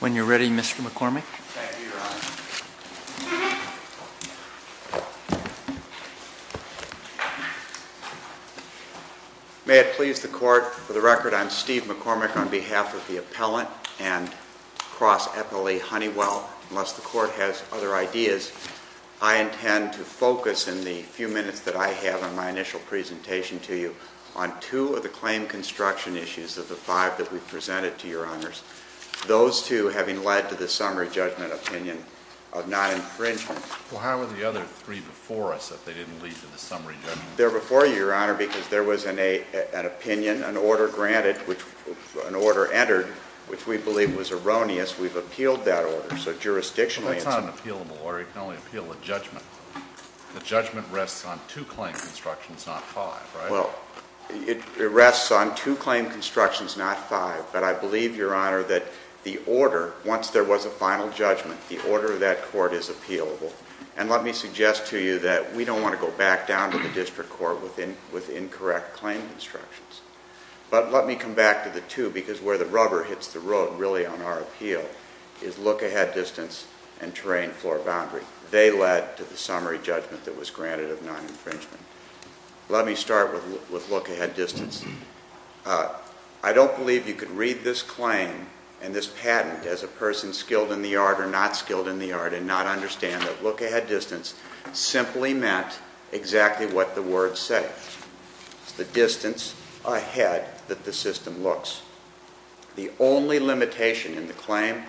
When you're ready, Mr. McCormick. Thank you, Your Honor. May it please the Court, for the record, I'm Steve McCormick on behalf of the appellant and Cross-Epilee Honeywell. Unless the Court has other ideas, I intend to focus in the few minutes that I have in my initial presentation to you on two of the claim construction issues of the five that we've presented to Your Honors. Those two having led to the summary judgment opinion of non-infringement. Well, how were the other three before us if they didn't lead to the summary judgment? They're before you, Your Honor, because there was an opinion, an order granted, an order entered, which we believe was erroneous. We've appealed that order, so jurisdictionally it's not an appealable order. You can only appeal a judgment. The judgment rests on two claim constructions, not five, right? Well, it rests on two claim constructions, not five. But I believe, Your Honor, that the order, once there was a final judgment, the order of that court is appealable. And let me suggest to you that we don't want to go back down to the district court with incorrect claim constructions. But let me come back to the two, because where the rubber hits the road, really, on our appeal, is look-ahead distance and terrain floor boundary. They led to the summary judgment that was granted of non-infringement. Let me start with look-ahead distance. I don't believe you could read this claim and this patent as a person skilled in the art or not skilled in the art and not understand that look-ahead distance simply meant exactly what the words say. It's the distance ahead that the system looks. The only limitation in the claim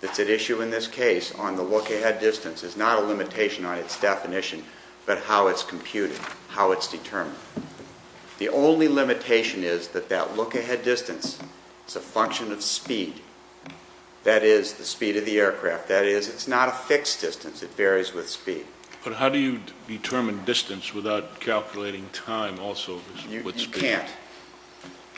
that's at issue in this case on the look-ahead distance is not a limitation on its definition but how it's computed, how it's determined. The only limitation is that that look-ahead distance is a function of speed, that is, the speed of the aircraft. That is, it's not a fixed distance. It varies with speed. But how do you determine distance without calculating time also with speed? You can't.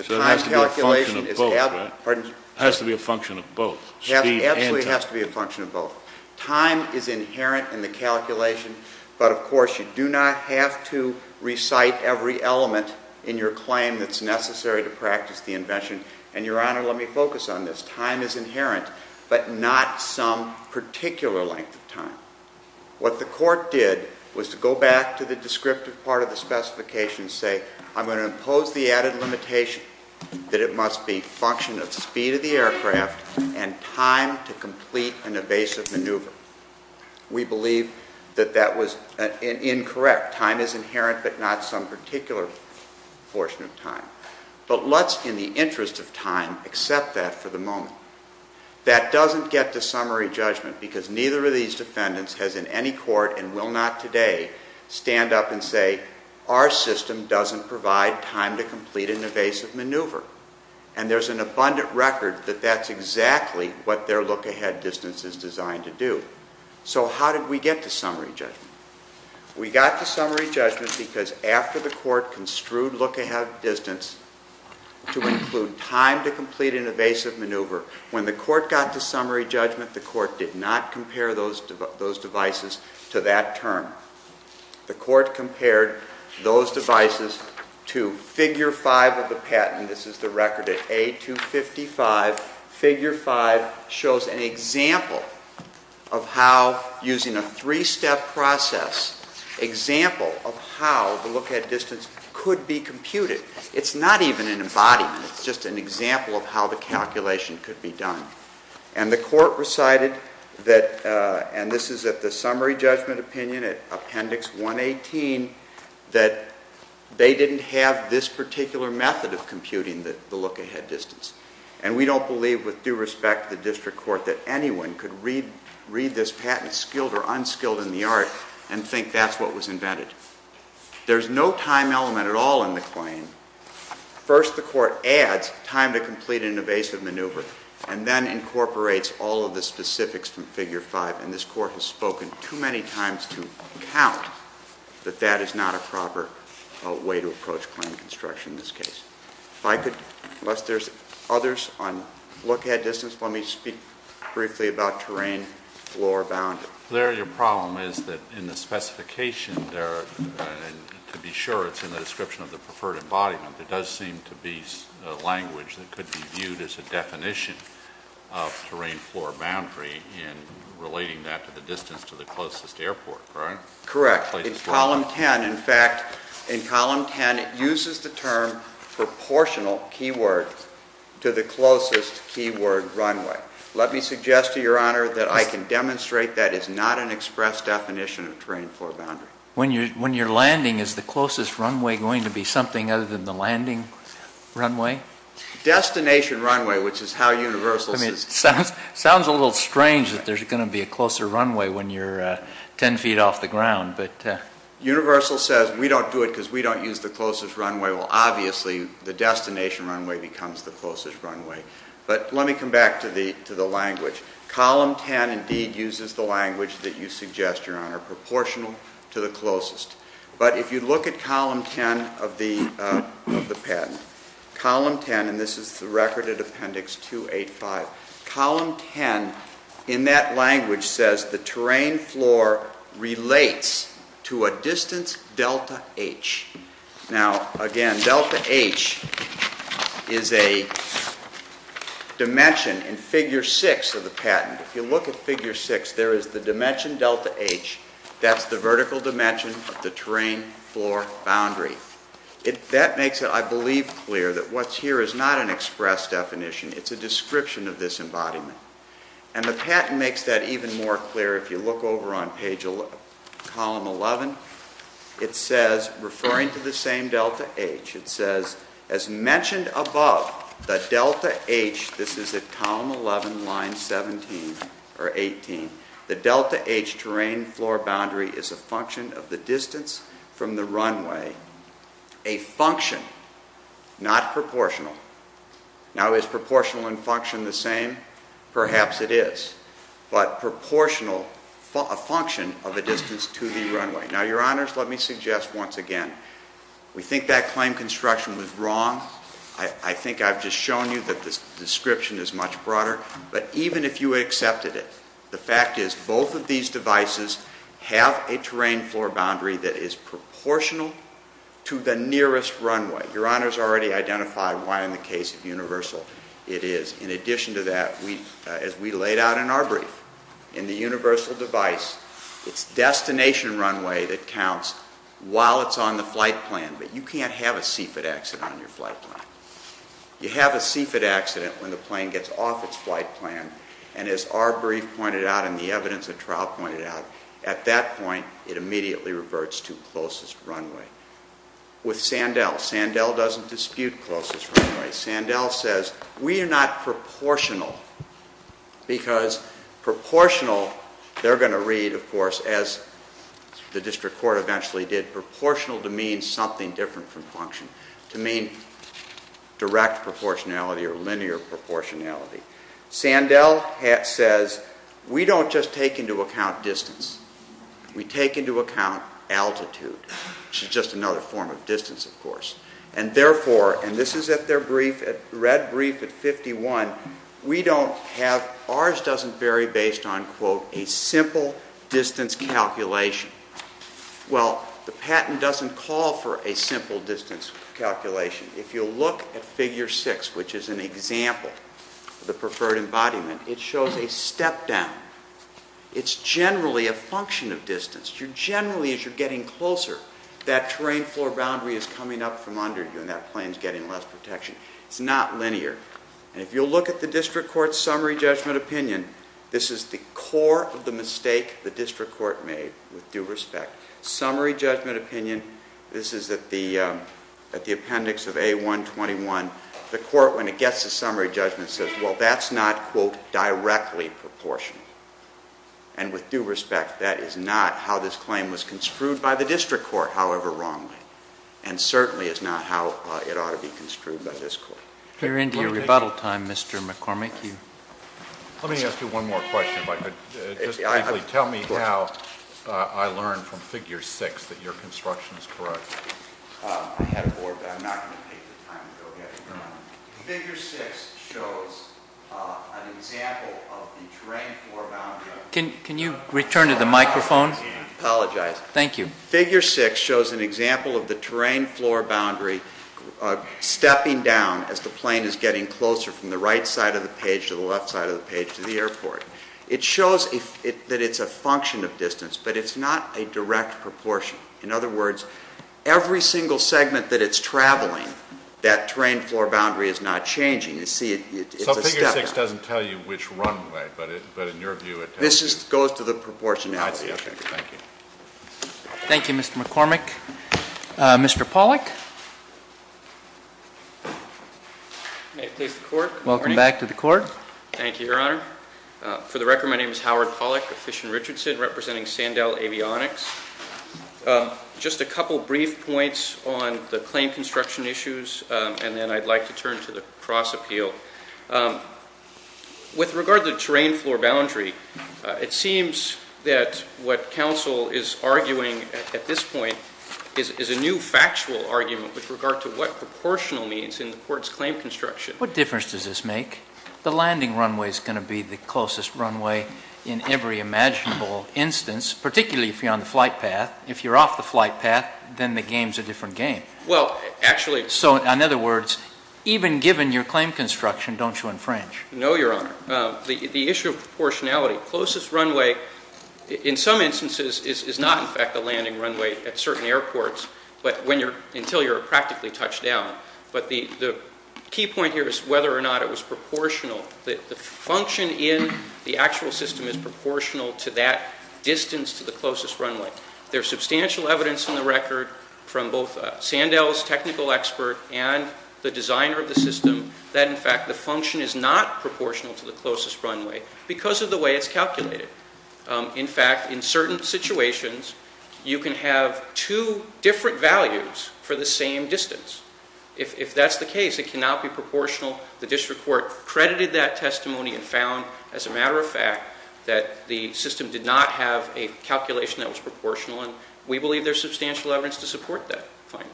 So it has to be a function of both, right? Pardon? It has to be a function of both, speed and time. It absolutely has to be a function of both. Time is inherent in the calculation, but, of course, you do not have to recite every element in your claim that's necessary to practice the invention. And, Your Honor, let me focus on this. Time is inherent but not some particular length of time. What the court did was to go back to the descriptive part of the specification and say, I'm going to impose the added limitation that it must be a function of speed of the aircraft and time to complete an evasive maneuver. We believe that that was incorrect. Time is inherent but not some particular portion of time. But let's, in the interest of time, accept that for the moment. That doesn't get to summary judgment because neither of these defendants has in any court and will not today stand up and say, our system doesn't provide time to complete an evasive maneuver. And there's an abundant record that that's exactly what their look-ahead distance is designed to do. So how did we get to summary judgment? We got to summary judgment because after the court construed look-ahead distance to include time to complete an evasive maneuver, when the court got to summary judgment, the court did not compare those devices to that term. The court compared those devices to figure five of the patent. This is the record at A255. Figure five shows an example of how, using a three-step process, example of how the look-ahead distance could be computed. It's not even an embodiment. It's just an example of how the calculation could be done. And the court recited that, and this is at the summary judgment opinion at Appendix 118, that they didn't have this particular method of computing the look-ahead distance. And we don't believe, with due respect to the district court, that anyone could read this patent, skilled or unskilled in the art, and think that's what was invented. There's no time element at all in the claim. First, the court adds time to complete an evasive maneuver. And then incorporates all of the specifics from figure five. And this court has spoken too many times to account that that is not a proper way to approach claim construction in this case. If I could, unless there's others on look-ahead distance, let me speak briefly about terrain, floor, boundary. Larry, your problem is that in the specification there, to be sure, it's in the description of the preferred embodiment. There does seem to be language that could be viewed as a definition of terrain, floor, boundary in relating that to the distance to the closest airport, correct? Correct. In Column 10, in fact, in Column 10, it uses the term proportional keyword to the closest keyword runway. Let me suggest to Your Honor that I can demonstrate that is not an express definition of terrain, floor, boundary. When you're landing, is the closest runway going to be something other than the landing runway? Destination runway, which is how Universal says it. It sounds a little strange that there's going to be a closer runway when you're 10 feet off the ground. Universal says we don't do it because we don't use the closest runway. Well, obviously, the destination runway becomes the closest runway. But let me come back to the language. Column 10 indeed uses the language that you suggest, Your Honor, proportional to the closest. But if you look at Column 10 of the patent, Column 10, and this is the record at Appendix 285, Column 10 in that language says the terrain, floor relates to a distance delta H. Now, again, delta H is a dimension in Figure 6 of the patent. If you look at Figure 6, there is the dimension delta H. That's the vertical dimension of the terrain, floor, boundary. That makes it, I believe, clear that what's here is not an express definition. It's a description of this embodiment. And the patent makes that even more clear. If you look over on Column 11, it says, referring to the same delta H, it says, as mentioned above, the delta H, this is at Column 11, Line 17 or 18, the delta H terrain, floor, boundary is a function of the distance from the runway. A function, not proportional. Now, is proportional and function the same? Perhaps it is. But proportional, a function of a distance to the runway. Now, Your Honors, let me suggest once again, we think that claim construction was wrong. I think I've just shown you that this description is much broader. But even if you accepted it, the fact is both of these devices have a terrain, floor, boundary that is proportional to the nearest runway. Your Honors already identified why in the case of Universal it is. In addition to that, as we laid out in our brief, in the Universal device, it's destination runway that counts while it's on the flight plan. But you can't have a CFIT accident on your flight plan. You have a CFIT accident when the plane gets off its flight plan. And as our brief pointed out and the evidence of trial pointed out, at that point it immediately reverts to closest runway. With Sandell, Sandell doesn't dispute closest runway. Sandell says we are not proportional because proportional, they're going to read, of course, as the district court eventually did, proportional to mean something different from function, to mean direct proportionality or linear proportionality. Sandell says we don't just take into account distance. We take into account altitude, which is just another form of distance, of course. And therefore, and this is at their brief, at Red Brief at 51, we don't have, ours doesn't vary based on, quote, a simple distance calculation. Well, the patent doesn't call for a simple distance calculation. If you look at Figure 6, which is an example of the preferred embodiment, it shows a step down. It's generally a function of distance. Generally, as you're getting closer, that terrain floor boundary is coming up from under you and that plane is getting less protection. It's not linear. And if you'll look at the district court's summary judgment opinion, this is the core of the mistake the district court made with due respect. Summary judgment opinion, this is at the appendix of A121. The court, when it gets to summary judgment, says, well, that's not, quote, directly proportional. And with due respect, that is not how this claim was construed by the district court, however wrongly, and certainly is not how it ought to be construed by this court. We're into your rebuttal time, Mr. McCormick. Let me ask you one more question, if I could. Just briefly, tell me how I learned from Figure 6 that your construction is correct. I have more, but I'm not going to take the time to go get it done. Figure 6 shows an example of the terrain floor boundary. Can you return to the microphone? Apologize. Thank you. Figure 6 shows an example of the terrain floor boundary stepping down as the plane is getting closer from the right side of the page to the left side of the page to the airport. It shows that it's a function of distance, but it's not a direct proportion. In other words, every single segment that it's traveling, that terrain floor boundary is not changing. You see, it's a step up. So Figure 6 doesn't tell you which runway, but in your view it tells you? This goes to the proportionality issue. I see. Okay. Thank you. Thank you, Mr. McCormick. Mr. Pollack. May it please the court. Welcome back to the court. Thank you, Your Honor. For the record, my name is Howard Pollack of Fish and Richardson, representing Sandell Avionics. Just a couple brief points on the claim construction issues, and then I'd like to turn to the cross appeal. With regard to the terrain floor boundary, it seems that what counsel is arguing at this point is a new factual argument with regard to what proportional means in the court's claim construction. What difference does this make? The landing runway is going to be the closest runway in every imaginable instance, particularly if you're on the flight path. If you're off the flight path, then the game is a different game. Well, actually. So in other words, even given your claim construction, don't you infringe? No, Your Honor. The issue of proportionality, closest runway in some instances is not in fact the landing runway at certain airports, until you're practically touched down. But the key point here is whether or not it was proportional. The function in the actual system is proportional to that distance to the closest runway. There's substantial evidence in the record from both Sandell's technical expert and the designer of the system that in fact the function is not proportional to the closest runway because of the way it's calculated. In fact, in certain situations, you can have two different values for the same distance. If that's the case, it cannot be proportional. The district court credited that testimony and found, as a matter of fact, that the system did not have a calculation that was proportional, and we believe there's substantial evidence to support that finding.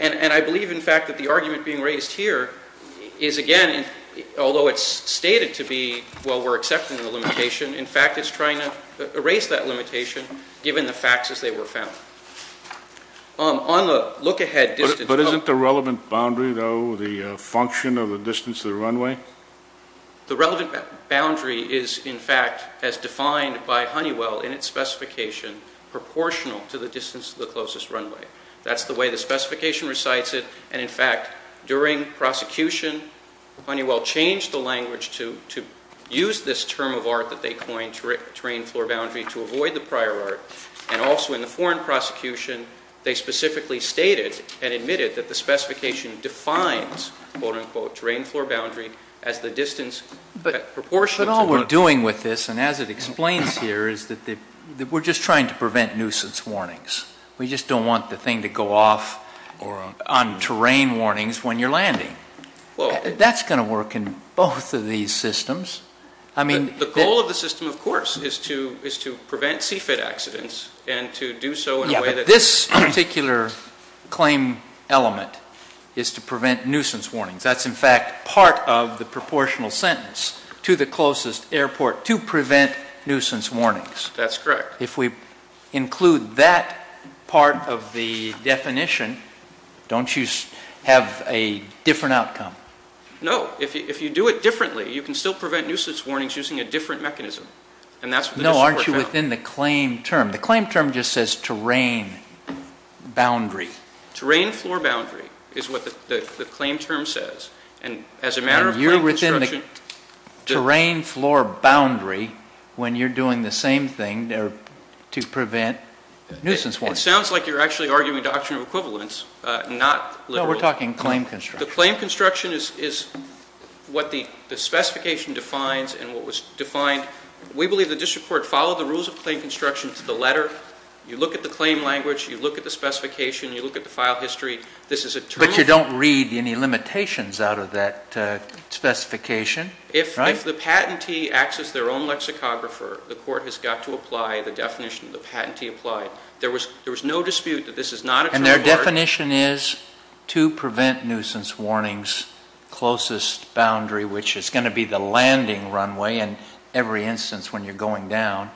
And I believe, in fact, that the argument being raised here is, again, although it's stated to be, well, we're accepting the limitation, in fact it's trying to erase that limitation given the facts as they were found. On the look-ahead distance... But isn't the relevant boundary, though, the function of the distance to the runway? The relevant boundary is, in fact, as defined by Honeywell in its specification, proportional to the distance to the closest runway. That's the way the specification recites it, and in fact, during prosecution, Honeywell changed the language to use this term of art that they coined, terrain-floor boundary, to avoid the prior art, and also in the foreign prosecution, they specifically stated and admitted that the specification defines, quote-unquote, terrain-floor boundary as the distance proportional to... We're trying to prevent nuisance warnings. We just don't want the thing to go off on terrain warnings when you're landing. That's going to work in both of these systems. I mean... The goal of the system, of course, is to prevent CFIT accidents and to do so in a way that... Yeah, but this particular claim element is to prevent nuisance warnings. That's, in fact, part of the proportional sentence, to the closest airport, to prevent nuisance warnings. That's correct. If we include that part of the definition, don't you have a different outcome? No. If you do it differently, you can still prevent nuisance warnings using a different mechanism, and that's what this report found. No, aren't you within the claim term? The claim term just says terrain boundary. Terrain-floor boundary is what the claim term says, and as a matter of fact... Terrain-floor boundary, when you're doing the same thing to prevent nuisance warnings. It sounds like you're actually arguing doctrine of equivalence, not liberal. No, we're talking claim construction. The claim construction is what the specification defines and what was defined. We believe the district court followed the rules of claim construction to the letter. You look at the claim language. You look at the specification. You look at the file history. But you don't read any limitations out of that specification, right? If the patentee acts as their own lexicographer, the court has got to apply the definition the patentee applied. There was no dispute that this is not a term of art. And their definition is to prevent nuisance warnings closest boundary, which is going to be the landing runway in every instance when you're going down.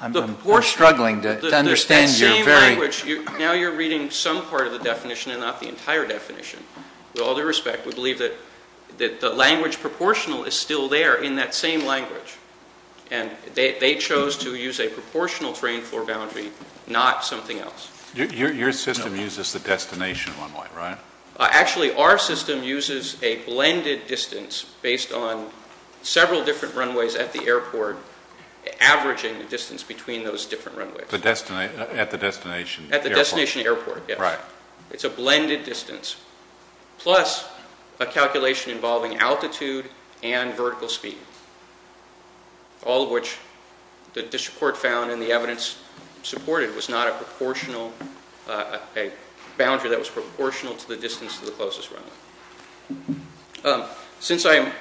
I'm struggling to understand your very... With all due respect, we believe that the language proportional is still there in that same language. And they chose to use a proportional terrain-floor boundary, not something else. Your system uses the destination runway, right? Actually, our system uses a blended distance based on several different runways at the airport, averaging the distance between those different runways. At the destination airport. At the destination airport, yes. Right. It's a blended distance. Plus a calculation involving altitude and vertical speed, all of which the district court found in the evidence supported was not a proportional, a boundary that was proportional to the distance to the closest runway. Since I'm...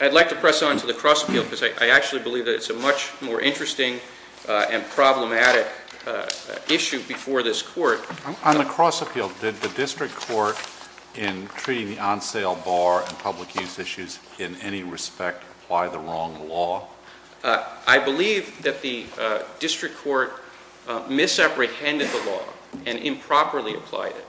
I'd like to press on to the cross-appeal because I actually believe that it's a much more interesting and problematic issue before this court. On the cross-appeal, did the district court in treating the on-sale bar and public use issues in any respect apply the wrong law? I believe that the district court misapprehended the law and improperly applied it.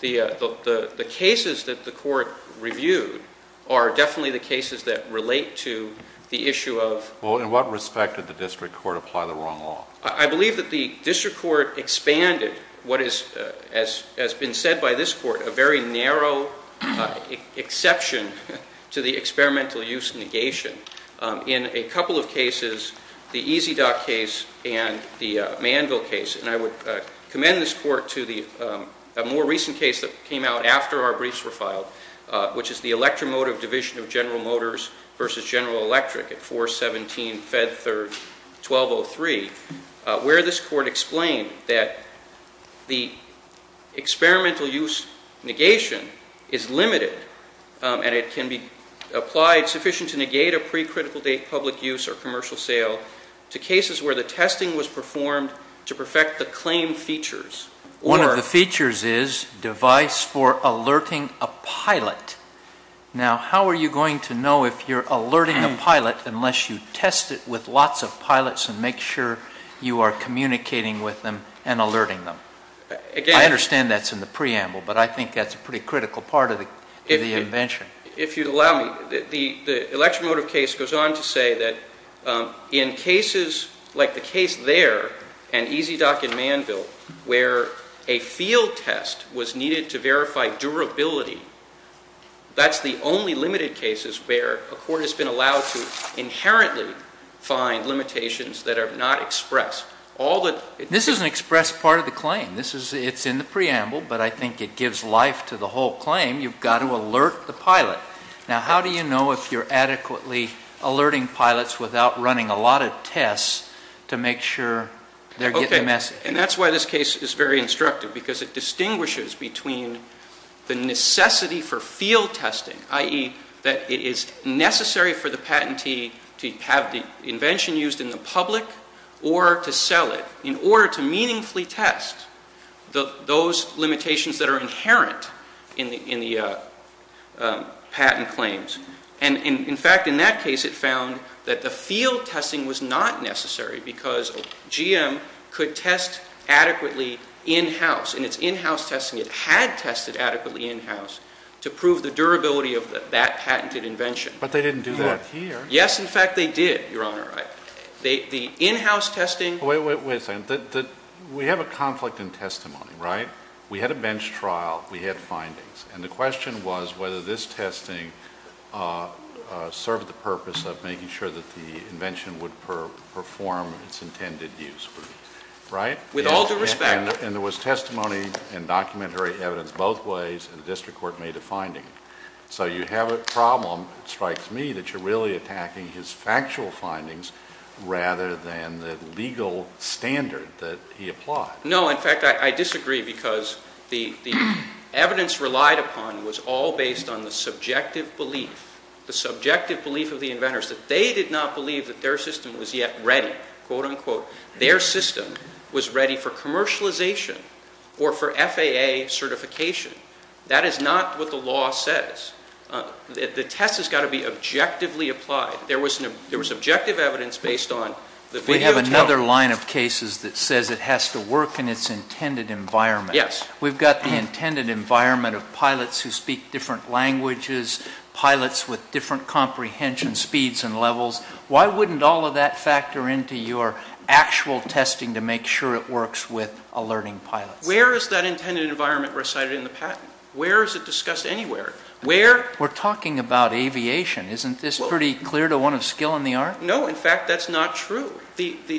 The cases that the court reviewed are definitely the cases that relate to the issue of... Well, in what respect did the district court apply the wrong law? I believe that the district court expanded what has been said by this court, a very narrow exception to the experimental use negation. In a couple of cases, the EZDOT case and the Manville case, and I would commend this court to the more recent case that came out after our briefs were filed, which is the Electromotive Division of General Motors versus General Electric at 417 Fed Third 1203, where this court explained that the experimental use negation is limited and it can be applied sufficient to negate a pre-critical date public use or commercial sale to cases where the testing was performed to perfect the claim features. One of the features is device for alerting a pilot. Now, how are you going to know if you're alerting a pilot unless you test it with lots of pilots and make sure you are communicating with them and alerting them? I understand that's in the preamble, but I think that's a pretty critical part of the invention. If you'd allow me, the Electromotive case goes on to say that in cases like the case there and EZDOT and Manville where a field test was needed to verify durability, that's the only limited cases where a court has been allowed to inherently find limitations that are not expressed. This is an expressed part of the claim. It's in the preamble, but I think it gives life to the whole claim. You've got to alert the pilot. Now, how do you know if you're adequately alerting pilots without running a lot of tests to make sure they're getting the message? That's why this case is very instructive because it distinguishes between the necessity for field testing, i.e., that it is necessary for the patentee to have the invention used in the public or to sell it, in order to meaningfully test those limitations that are inherent in the patent claims. And, in fact, in that case it found that the field testing was not necessary because GM could test adequately in-house. In its in-house testing, it had tested adequately in-house to prove the durability of that patented invention. But they didn't do that here. Yes, in fact, they did, Your Honor. The in-house testing- Wait a second. We have a conflict in testimony, right? We had a bench trial. We had findings. And the question was whether this testing served the purpose of making sure that the invention would perform its intended use, right? With all due respect- And there was testimony and documentary evidence both ways, and the district court made a finding. So you have a problem, it strikes me, that you're really attacking his factual findings rather than the legal standard that he applied. No. In fact, I disagree because the evidence relied upon was all based on the subjective belief, the subjective belief of the inventors that they did not believe that their system was yet ready, quote, unquote. Their system was ready for commercialization or for FAA certification. That is not what the law says. The test has got to be objectively applied. There was objective evidence based on- We have another line of cases that says it has to work in its intended environment. Yes. We've got the intended environment of pilots who speak different languages, pilots with different comprehension speeds and levels. Why wouldn't all of that factor into your actual testing to make sure it works with alerting pilots? Where is that intended environment recited in the patent? Where is it discussed anywhere? Where- We're talking about aviation. Isn't this pretty clear to one of skill in the art? No. In fact, that's not true.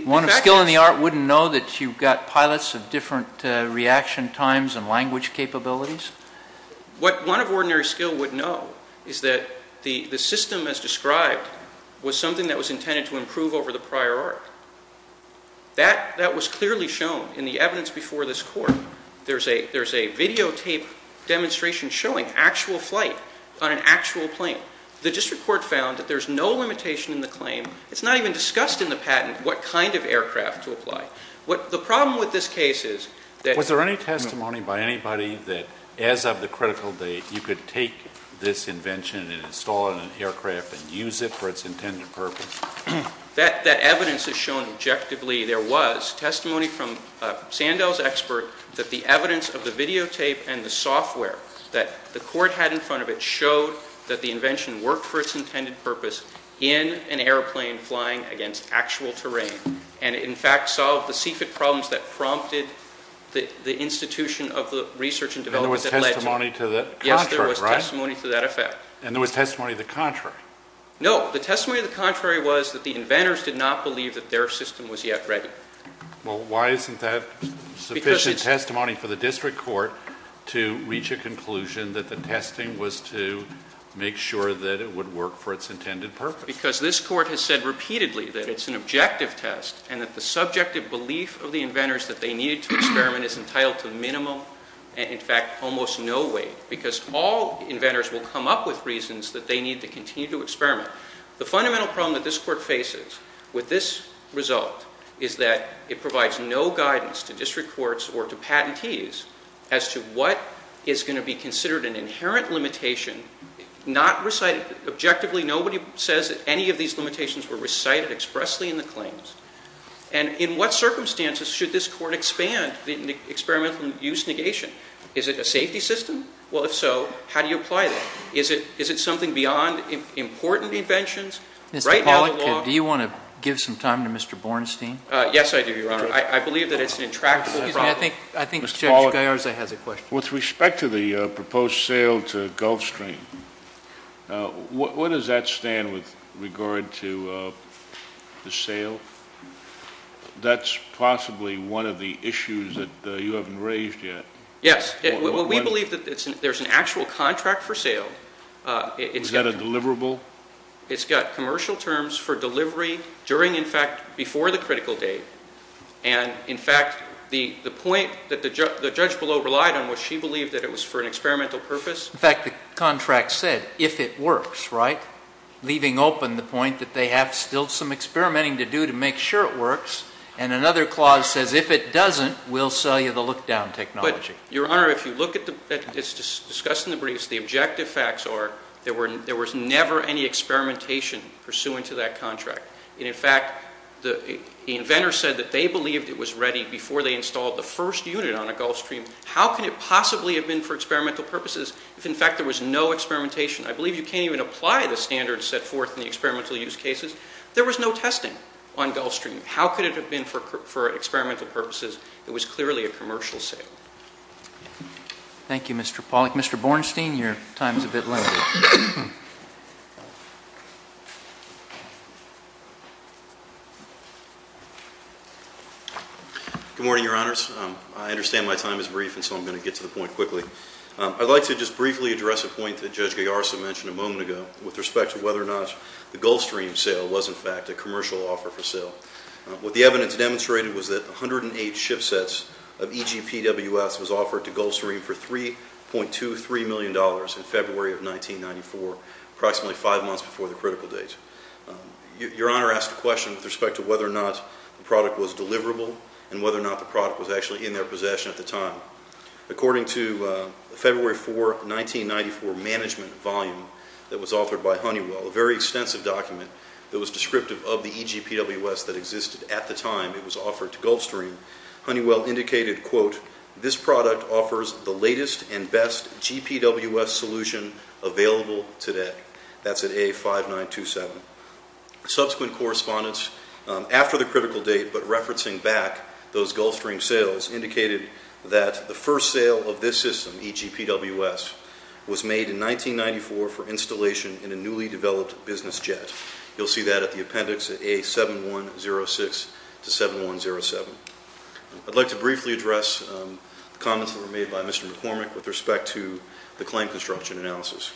One of skill in the art wouldn't know that you've got pilots of different reaction times and language capabilities? What one of ordinary skill would know is that the system as described was something that was intended to improve over the prior art. That was clearly shown in the evidence before this court. There's a videotape demonstration showing actual flight on an actual plane. The district court found that there's no limitation in the claim. It's not even discussed in the patent what kind of aircraft to apply. The problem with this case is that- Was there any testimony by anybody that as of the critical date you could take this invention and install it in an aircraft and use it for its intended purpose? That evidence is shown objectively. There was testimony from Sandell's expert that the evidence of the videotape and the software that the court had in front of it showed that the invention worked for its intended purpose in an airplane flying against actual terrain. And, in fact, solved the CFIT problems that prompted the institution of the research and development that led to- And there was testimony to the contrary, right? Yes, there was testimony to that effect. And there was testimony to the contrary? No. The testimony to the contrary was that the inventors did not believe that their system was yet ready. Well, why isn't that sufficient testimony for the district court to reach a conclusion that the testing was to make sure that it would work for its intended purpose? Because this court has said repeatedly that it's an objective test and that the subjective belief of the inventors that they needed to experiment is entitled to minimum and, in fact, almost no weight. Because all inventors will come up with reasons that they need to continue to experiment. The fundamental problem that this court faces with this result is that it provides no guidance to district courts or to patentees as to what is going to be considered an inherent limitation, not recited. Objectively, nobody says that any of these limitations were recited expressly in the claims. And in what circumstances should this court expand the experimental use negation? Is it a safety system? Well, if so, how do you apply that? Is it something beyond important inventions? Mr. Pollack, do you want to give some time to Mr. Bornstein? Yes, I do, Your Honor. I believe that it's an intractable problem. Excuse me. I think Judge Gallarza has a question. With respect to the proposed sale to Gulfstream, what does that stand with regard to the sale? That's possibly one of the issues that you haven't raised yet. Yes. We believe that there's an actual contract for sale. Is that a deliverable? It's got commercial terms for delivery during, in fact, before the critical date. And, in fact, the point that the judge below relied on was she believed that it was for an experimental purpose. In fact, the contract said if it works, right, leaving open the point that they have still some experimenting to do to make sure it works. And another clause says if it doesn't, we'll sell you the look-down technology. But, Your Honor, if you look at this discussed in the briefs, the objective facts are there was never any experimentation pursuant to that contract. And, in fact, the inventor said that they believed it was ready before they installed the first unit on a Gulfstream. How could it possibly have been for experimental purposes if, in fact, there was no experimentation? I believe you can't even apply the standards set forth in the experimental use cases. There was no testing on Gulfstream. How could it have been for experimental purposes? It was clearly a commercial sale. Thank you, Mr. Pollack. Mr. Bornstein, your time is a bit limited. Good morning, Your Honors. I understand my time is brief, and so I'm going to get to the point quickly. I'd like to just briefly address a point that Judge Gagarsa mentioned a moment ago with respect to whether or not the Gulfstream sale was, in fact, a commercial offer for sale. What the evidence demonstrated was that 108 ship sets of EGPWS was offered to Gulfstream for $3.23 million in February of 1994, approximately five months before the critical date. Your Honor asked a question with respect to whether or not the product was deliverable and whether or not the product was actually in their possession at the time. According to a February 4, 1994 management volume that was authored by Honeywell, a very extensive document that was descriptive of the EGPWS that existed at the time it was offered to Gulfstream, Honeywell indicated, quote, this product offers the latest and best GPWS solution available today. That's at A5927. Subsequent correspondence after the critical date, but referencing back those Gulfstream sales, indicated that the first sale of this system, EGPWS, was made in 1994 for installation in a newly developed business jet. You'll see that at the appendix at A7106 to 7107. I'd like to briefly address the comments that were made by Mr. McCormick with respect to the claim construction analysis.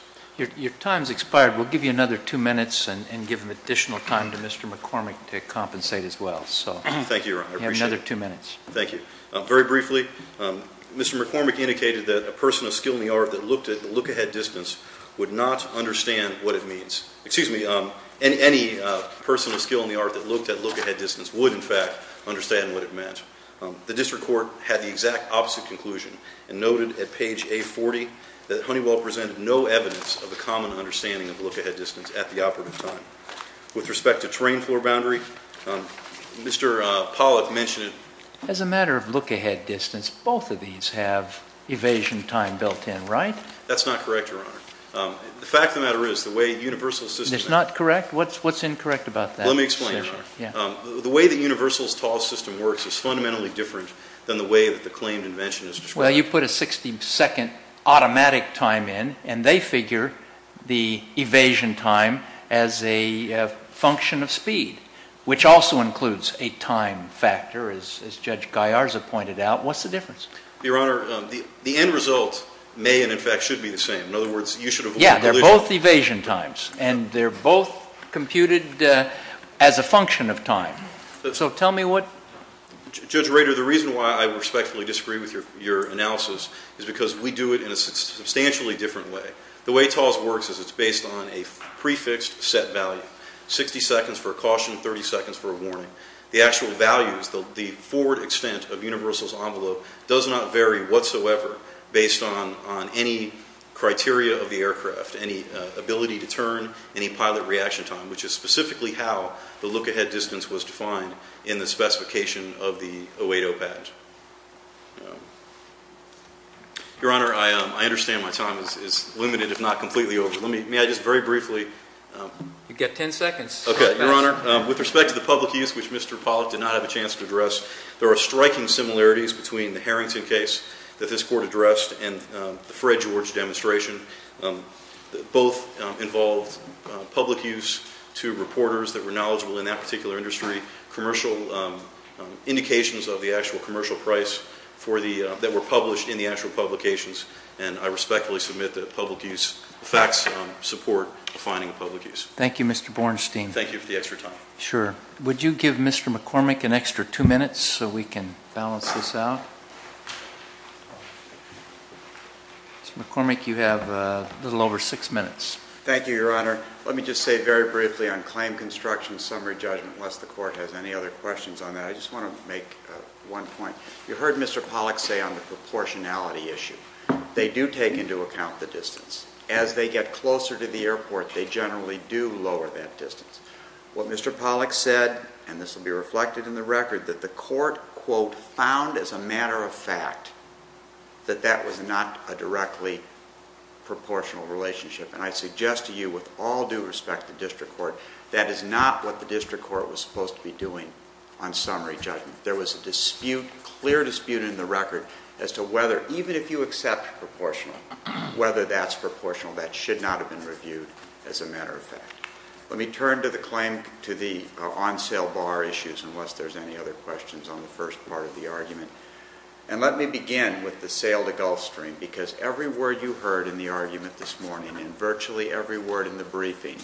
Your time's expired. We'll give you another two minutes and give additional time to Mr. McCormick to compensate as well. Thank you, Your Honor. I appreciate it. You have another two minutes. Thank you. Very briefly, Mr. McCormick indicated that a person of skill in the art that looked at look-ahead distance would not understand what it means. Excuse me, any person of skill in the art that looked at look-ahead distance would, in fact, understand what it meant. The district court had the exact opposite conclusion and noted at page A40 that Honeywell presented no evidence of a common understanding of look-ahead distance at the operative time. With respect to terrain floor boundary, Mr. Pollack mentioned it. As a matter of look-ahead distance, both of these have evasion time built in, right? That's not correct, Your Honor. The fact of the matter is the way Universal's system It's not correct? What's incorrect about that? Let me explain, Your Honor. Yeah. The way that Universal's TALS system works is fundamentally different than the way that the claimed invention is described. Well, you put a 60-second automatic time in, and they figure the evasion time as a function of speed, which also includes a time factor, as Judge Gallarza pointed out. What's the difference? Your Honor, the end result may and, in fact, should be the same. In other words, you should have avoided collision. They're both evasion times, and they're both computed as a function of time. So tell me what Judge Rader, the reason why I respectfully disagree with your analysis is because we do it in a substantially different way. The way TALS works is it's based on a prefixed set value, 60 seconds for a caution, 30 seconds for a warning. The actual values, the forward extent of Universal's envelope does not vary whatsoever based on any criteria of the aircraft, any ability to turn, any pilot reaction time, which is specifically how the look-ahead distance was defined in the specification of the 080 patent. Your Honor, I understand my time is limited, if not completely over. May I just very briefly You've got 10 seconds. Okay, Your Honor, with respect to the public use, which Mr. Pollack did not have a chance to address, there are striking similarities between the Harrington case that this Court addressed and the Fred George demonstration. Both involved public use to reporters that were knowledgeable in that particular industry, commercial indications of the actual commercial price that were published in the actual publications, and I respectfully submit that public use facts support defining public use. Thank you, Mr. Bornstein. Thank you for the extra time. Sure. Would you give Mr. McCormick an extra two minutes so we can balance this out? Mr. McCormick, you have a little over six minutes. Thank you, Your Honor. Let me just say very briefly on claim construction summary judgment, unless the Court has any other questions on that, I just want to make one point. You heard Mr. Pollack say on the proportionality issue. They do take into account the distance. As they get closer to the airport, they generally do lower that distance. What Mr. Pollack said, and this will be reflected in the record, that the Court, quote, found as a matter of fact that that was not a directly proportional relationship, and I suggest to you with all due respect to district court, that is not what the district court was supposed to be doing on summary judgment. There was a dispute, clear dispute in the record, as to whether, even if you accept proportional, whether that's proportional. That should not have been reviewed as a matter of fact. Let me turn to the claim to the on-sale bar issues, unless there's any other questions on the first part of the argument. And let me begin with the sale to Gulfstream, because every word you heard in the argument this morning and virtually every word in the briefing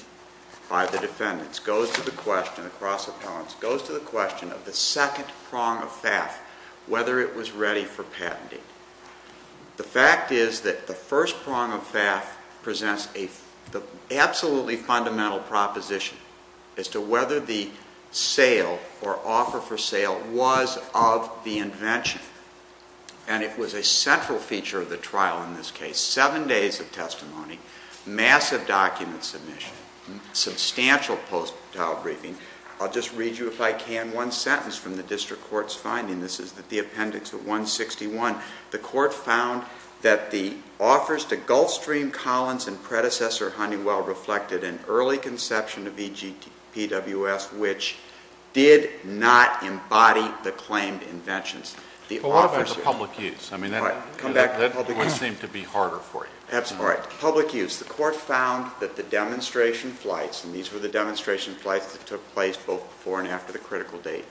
by the defendants goes to the question across appellants, goes to the question of the second prong of FAF, whether it was ready for patenting. The fact is that the first prong of FAF presents the absolutely fundamental proposition as to whether the sale or offer for sale was of the invention. And it was a central feature of the trial in this case. Seven days of testimony, massive document submission, substantial post-trial briefing. I'll just read you, if I can, one sentence from the district court's finding. This is the appendix at 161. The court found that the offers to Gulfstream, Collins, and predecessor Honeywell reflected an early conception of EGPWS, which did not embody the claimed inventions. The offers... But what about the public use? I mean, that would seem to be harder for you. That's right. Public use. The court found that the demonstration flights, and these were the demonstration flights that took place both before and after the critical date.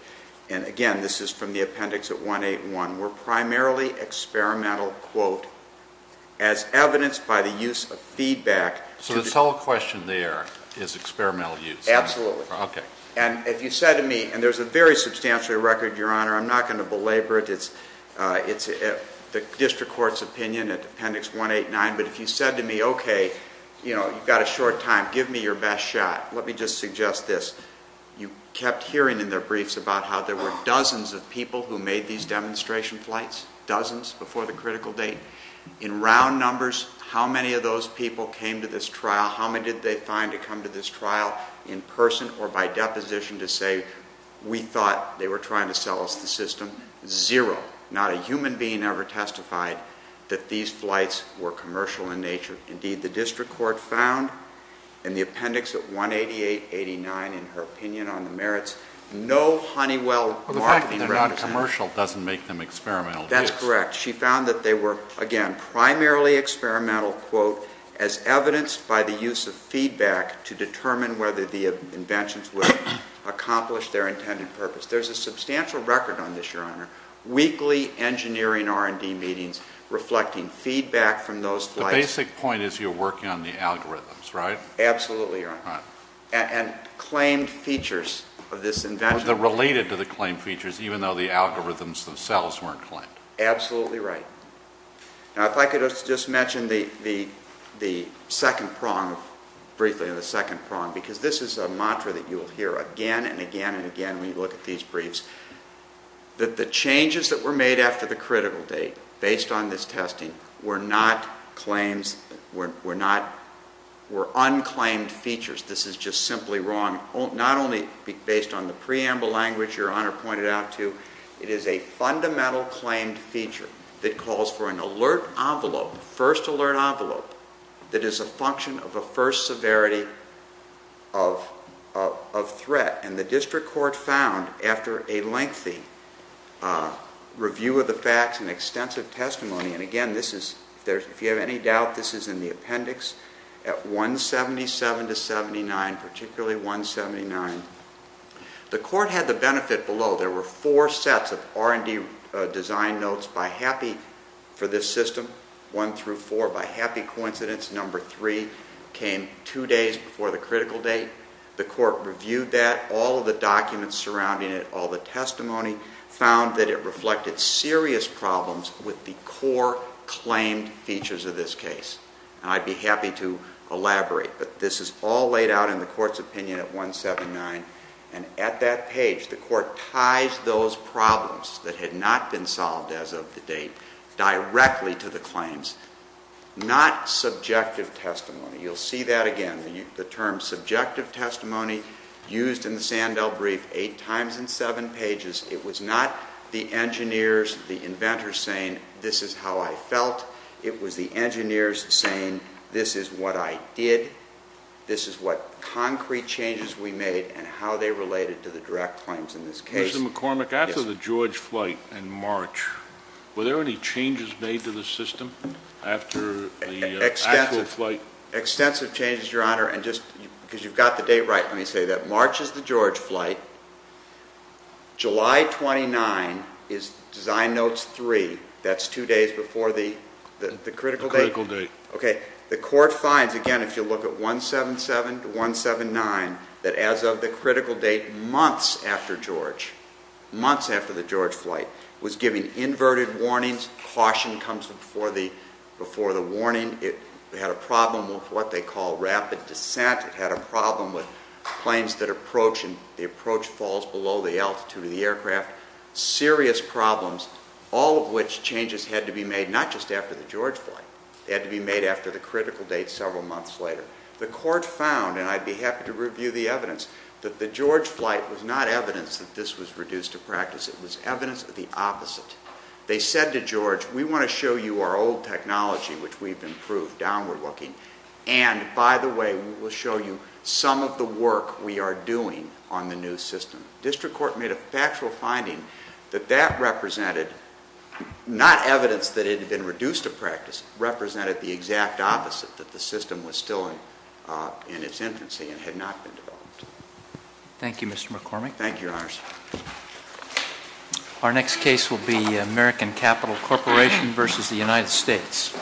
And again, this is from the appendix at 181. Were primarily experimental, quote, as evidenced by the use of feedback. So the sole question there is experimental use. Absolutely. Okay. And if you said to me, and there's a very substantial record, Your Honor, I'm not going to belabor it. It's the district court's opinion at appendix 189. But if you said to me, okay, you know, you've got a short time. Give me your best shot. Let me just suggest this. You kept hearing in their briefs about how there were dozens of people who made these demonstration flights. Dozens before the critical date. In round numbers, how many of those people came to this trial? How many did they find to come to this trial in person or by deposition to say, we thought they were trying to sell us the system? Zero. Not a human being ever testified that these flights were commercial in nature. Indeed, the district court found in the appendix at 188, 89, in her opinion on the merits, no Honeywell marketing direction. The fact that they're not commercial doesn't make them experimental. That's correct. She found that they were, again, primarily experimental, quote, as evidenced by the use of feedback to determine whether the inventions would accomplish their intended purpose. There's a substantial record on this, Your Honor. Weekly engineering R&D meetings reflecting feedback from those flights. The basic point is you're working on the algorithms, right? Absolutely, Your Honor. And claimed features of this invention. They're related to the claimed features, even though the algorithms themselves weren't claimed. Absolutely right. Now, if I could just mention the second prong briefly, the second prong, because this is a mantra that you will hear again and again and again when you look at these briefs, that the changes that were made after the critical date based on this testing were not claims, were unclaimed features. This is just simply wrong, not only based on the preamble language Your Honor pointed out to, it is a fundamental claimed feature that calls for an alert envelope, first alert envelope, that is a function of a first severity of threat. And the district court found, after a lengthy review of the facts and extensive testimony, and again, if you have any doubt, this is in the appendix, at 177 to 79, particularly 179, the court had the benefit below. There were four sets of R&D design notes by HAPI for this system, one through four, by HAPI coincidence number three came two days before the critical date. The court reviewed that, all of the documents surrounding it, all the testimony, found that it reflected serious problems with the core claimed features of this case. And I'd be happy to elaborate, but this is all laid out in the court's opinion at 179, and at that page the court ties those problems that had not been solved as of the date directly to the claims, not subjective testimony. You'll see that again, the term subjective testimony used in the Sandell brief, eight times in seven pages. It was not the engineers, the inventors saying this is how I felt, it was the engineers saying this is what I did, this is what concrete changes we made, and how they related to the direct claims in this case. Mr. McCormick, after the George flight in March, were there any changes made to the system after the actual flight? Extensive changes, Your Honor, and just because you've got the date right, let me say that March is the George flight, July 29 is design notes three, that's two days before the critical date. Okay, the court finds, again, if you look at 177 to 179, that as of the critical date months after George, months after the George flight, was giving inverted warnings. Caution comes before the warning. It had a problem with what they call rapid descent. It had a problem with planes that approach, and the approach falls below the altitude of the aircraft. Serious problems, all of which changes had to be made not just after the George flight. They had to be made after the critical date several months later. The court found, and I'd be happy to review the evidence, that the George flight was not evidence that this was reduced to practice. It was evidence of the opposite. They said to George, we want to show you our old technology, which we've improved, downward looking, and, by the way, we'll show you some of the work we are doing on the new system. District Court made a factual finding that that represented not evidence that it had been reduced to practice. It represented the exact opposite, that the system was still in its infancy and had not been developed. Thank you, Mr. McCormick. Thank you, Your Honors. Our next case will be American Capital Corporation v. The United States.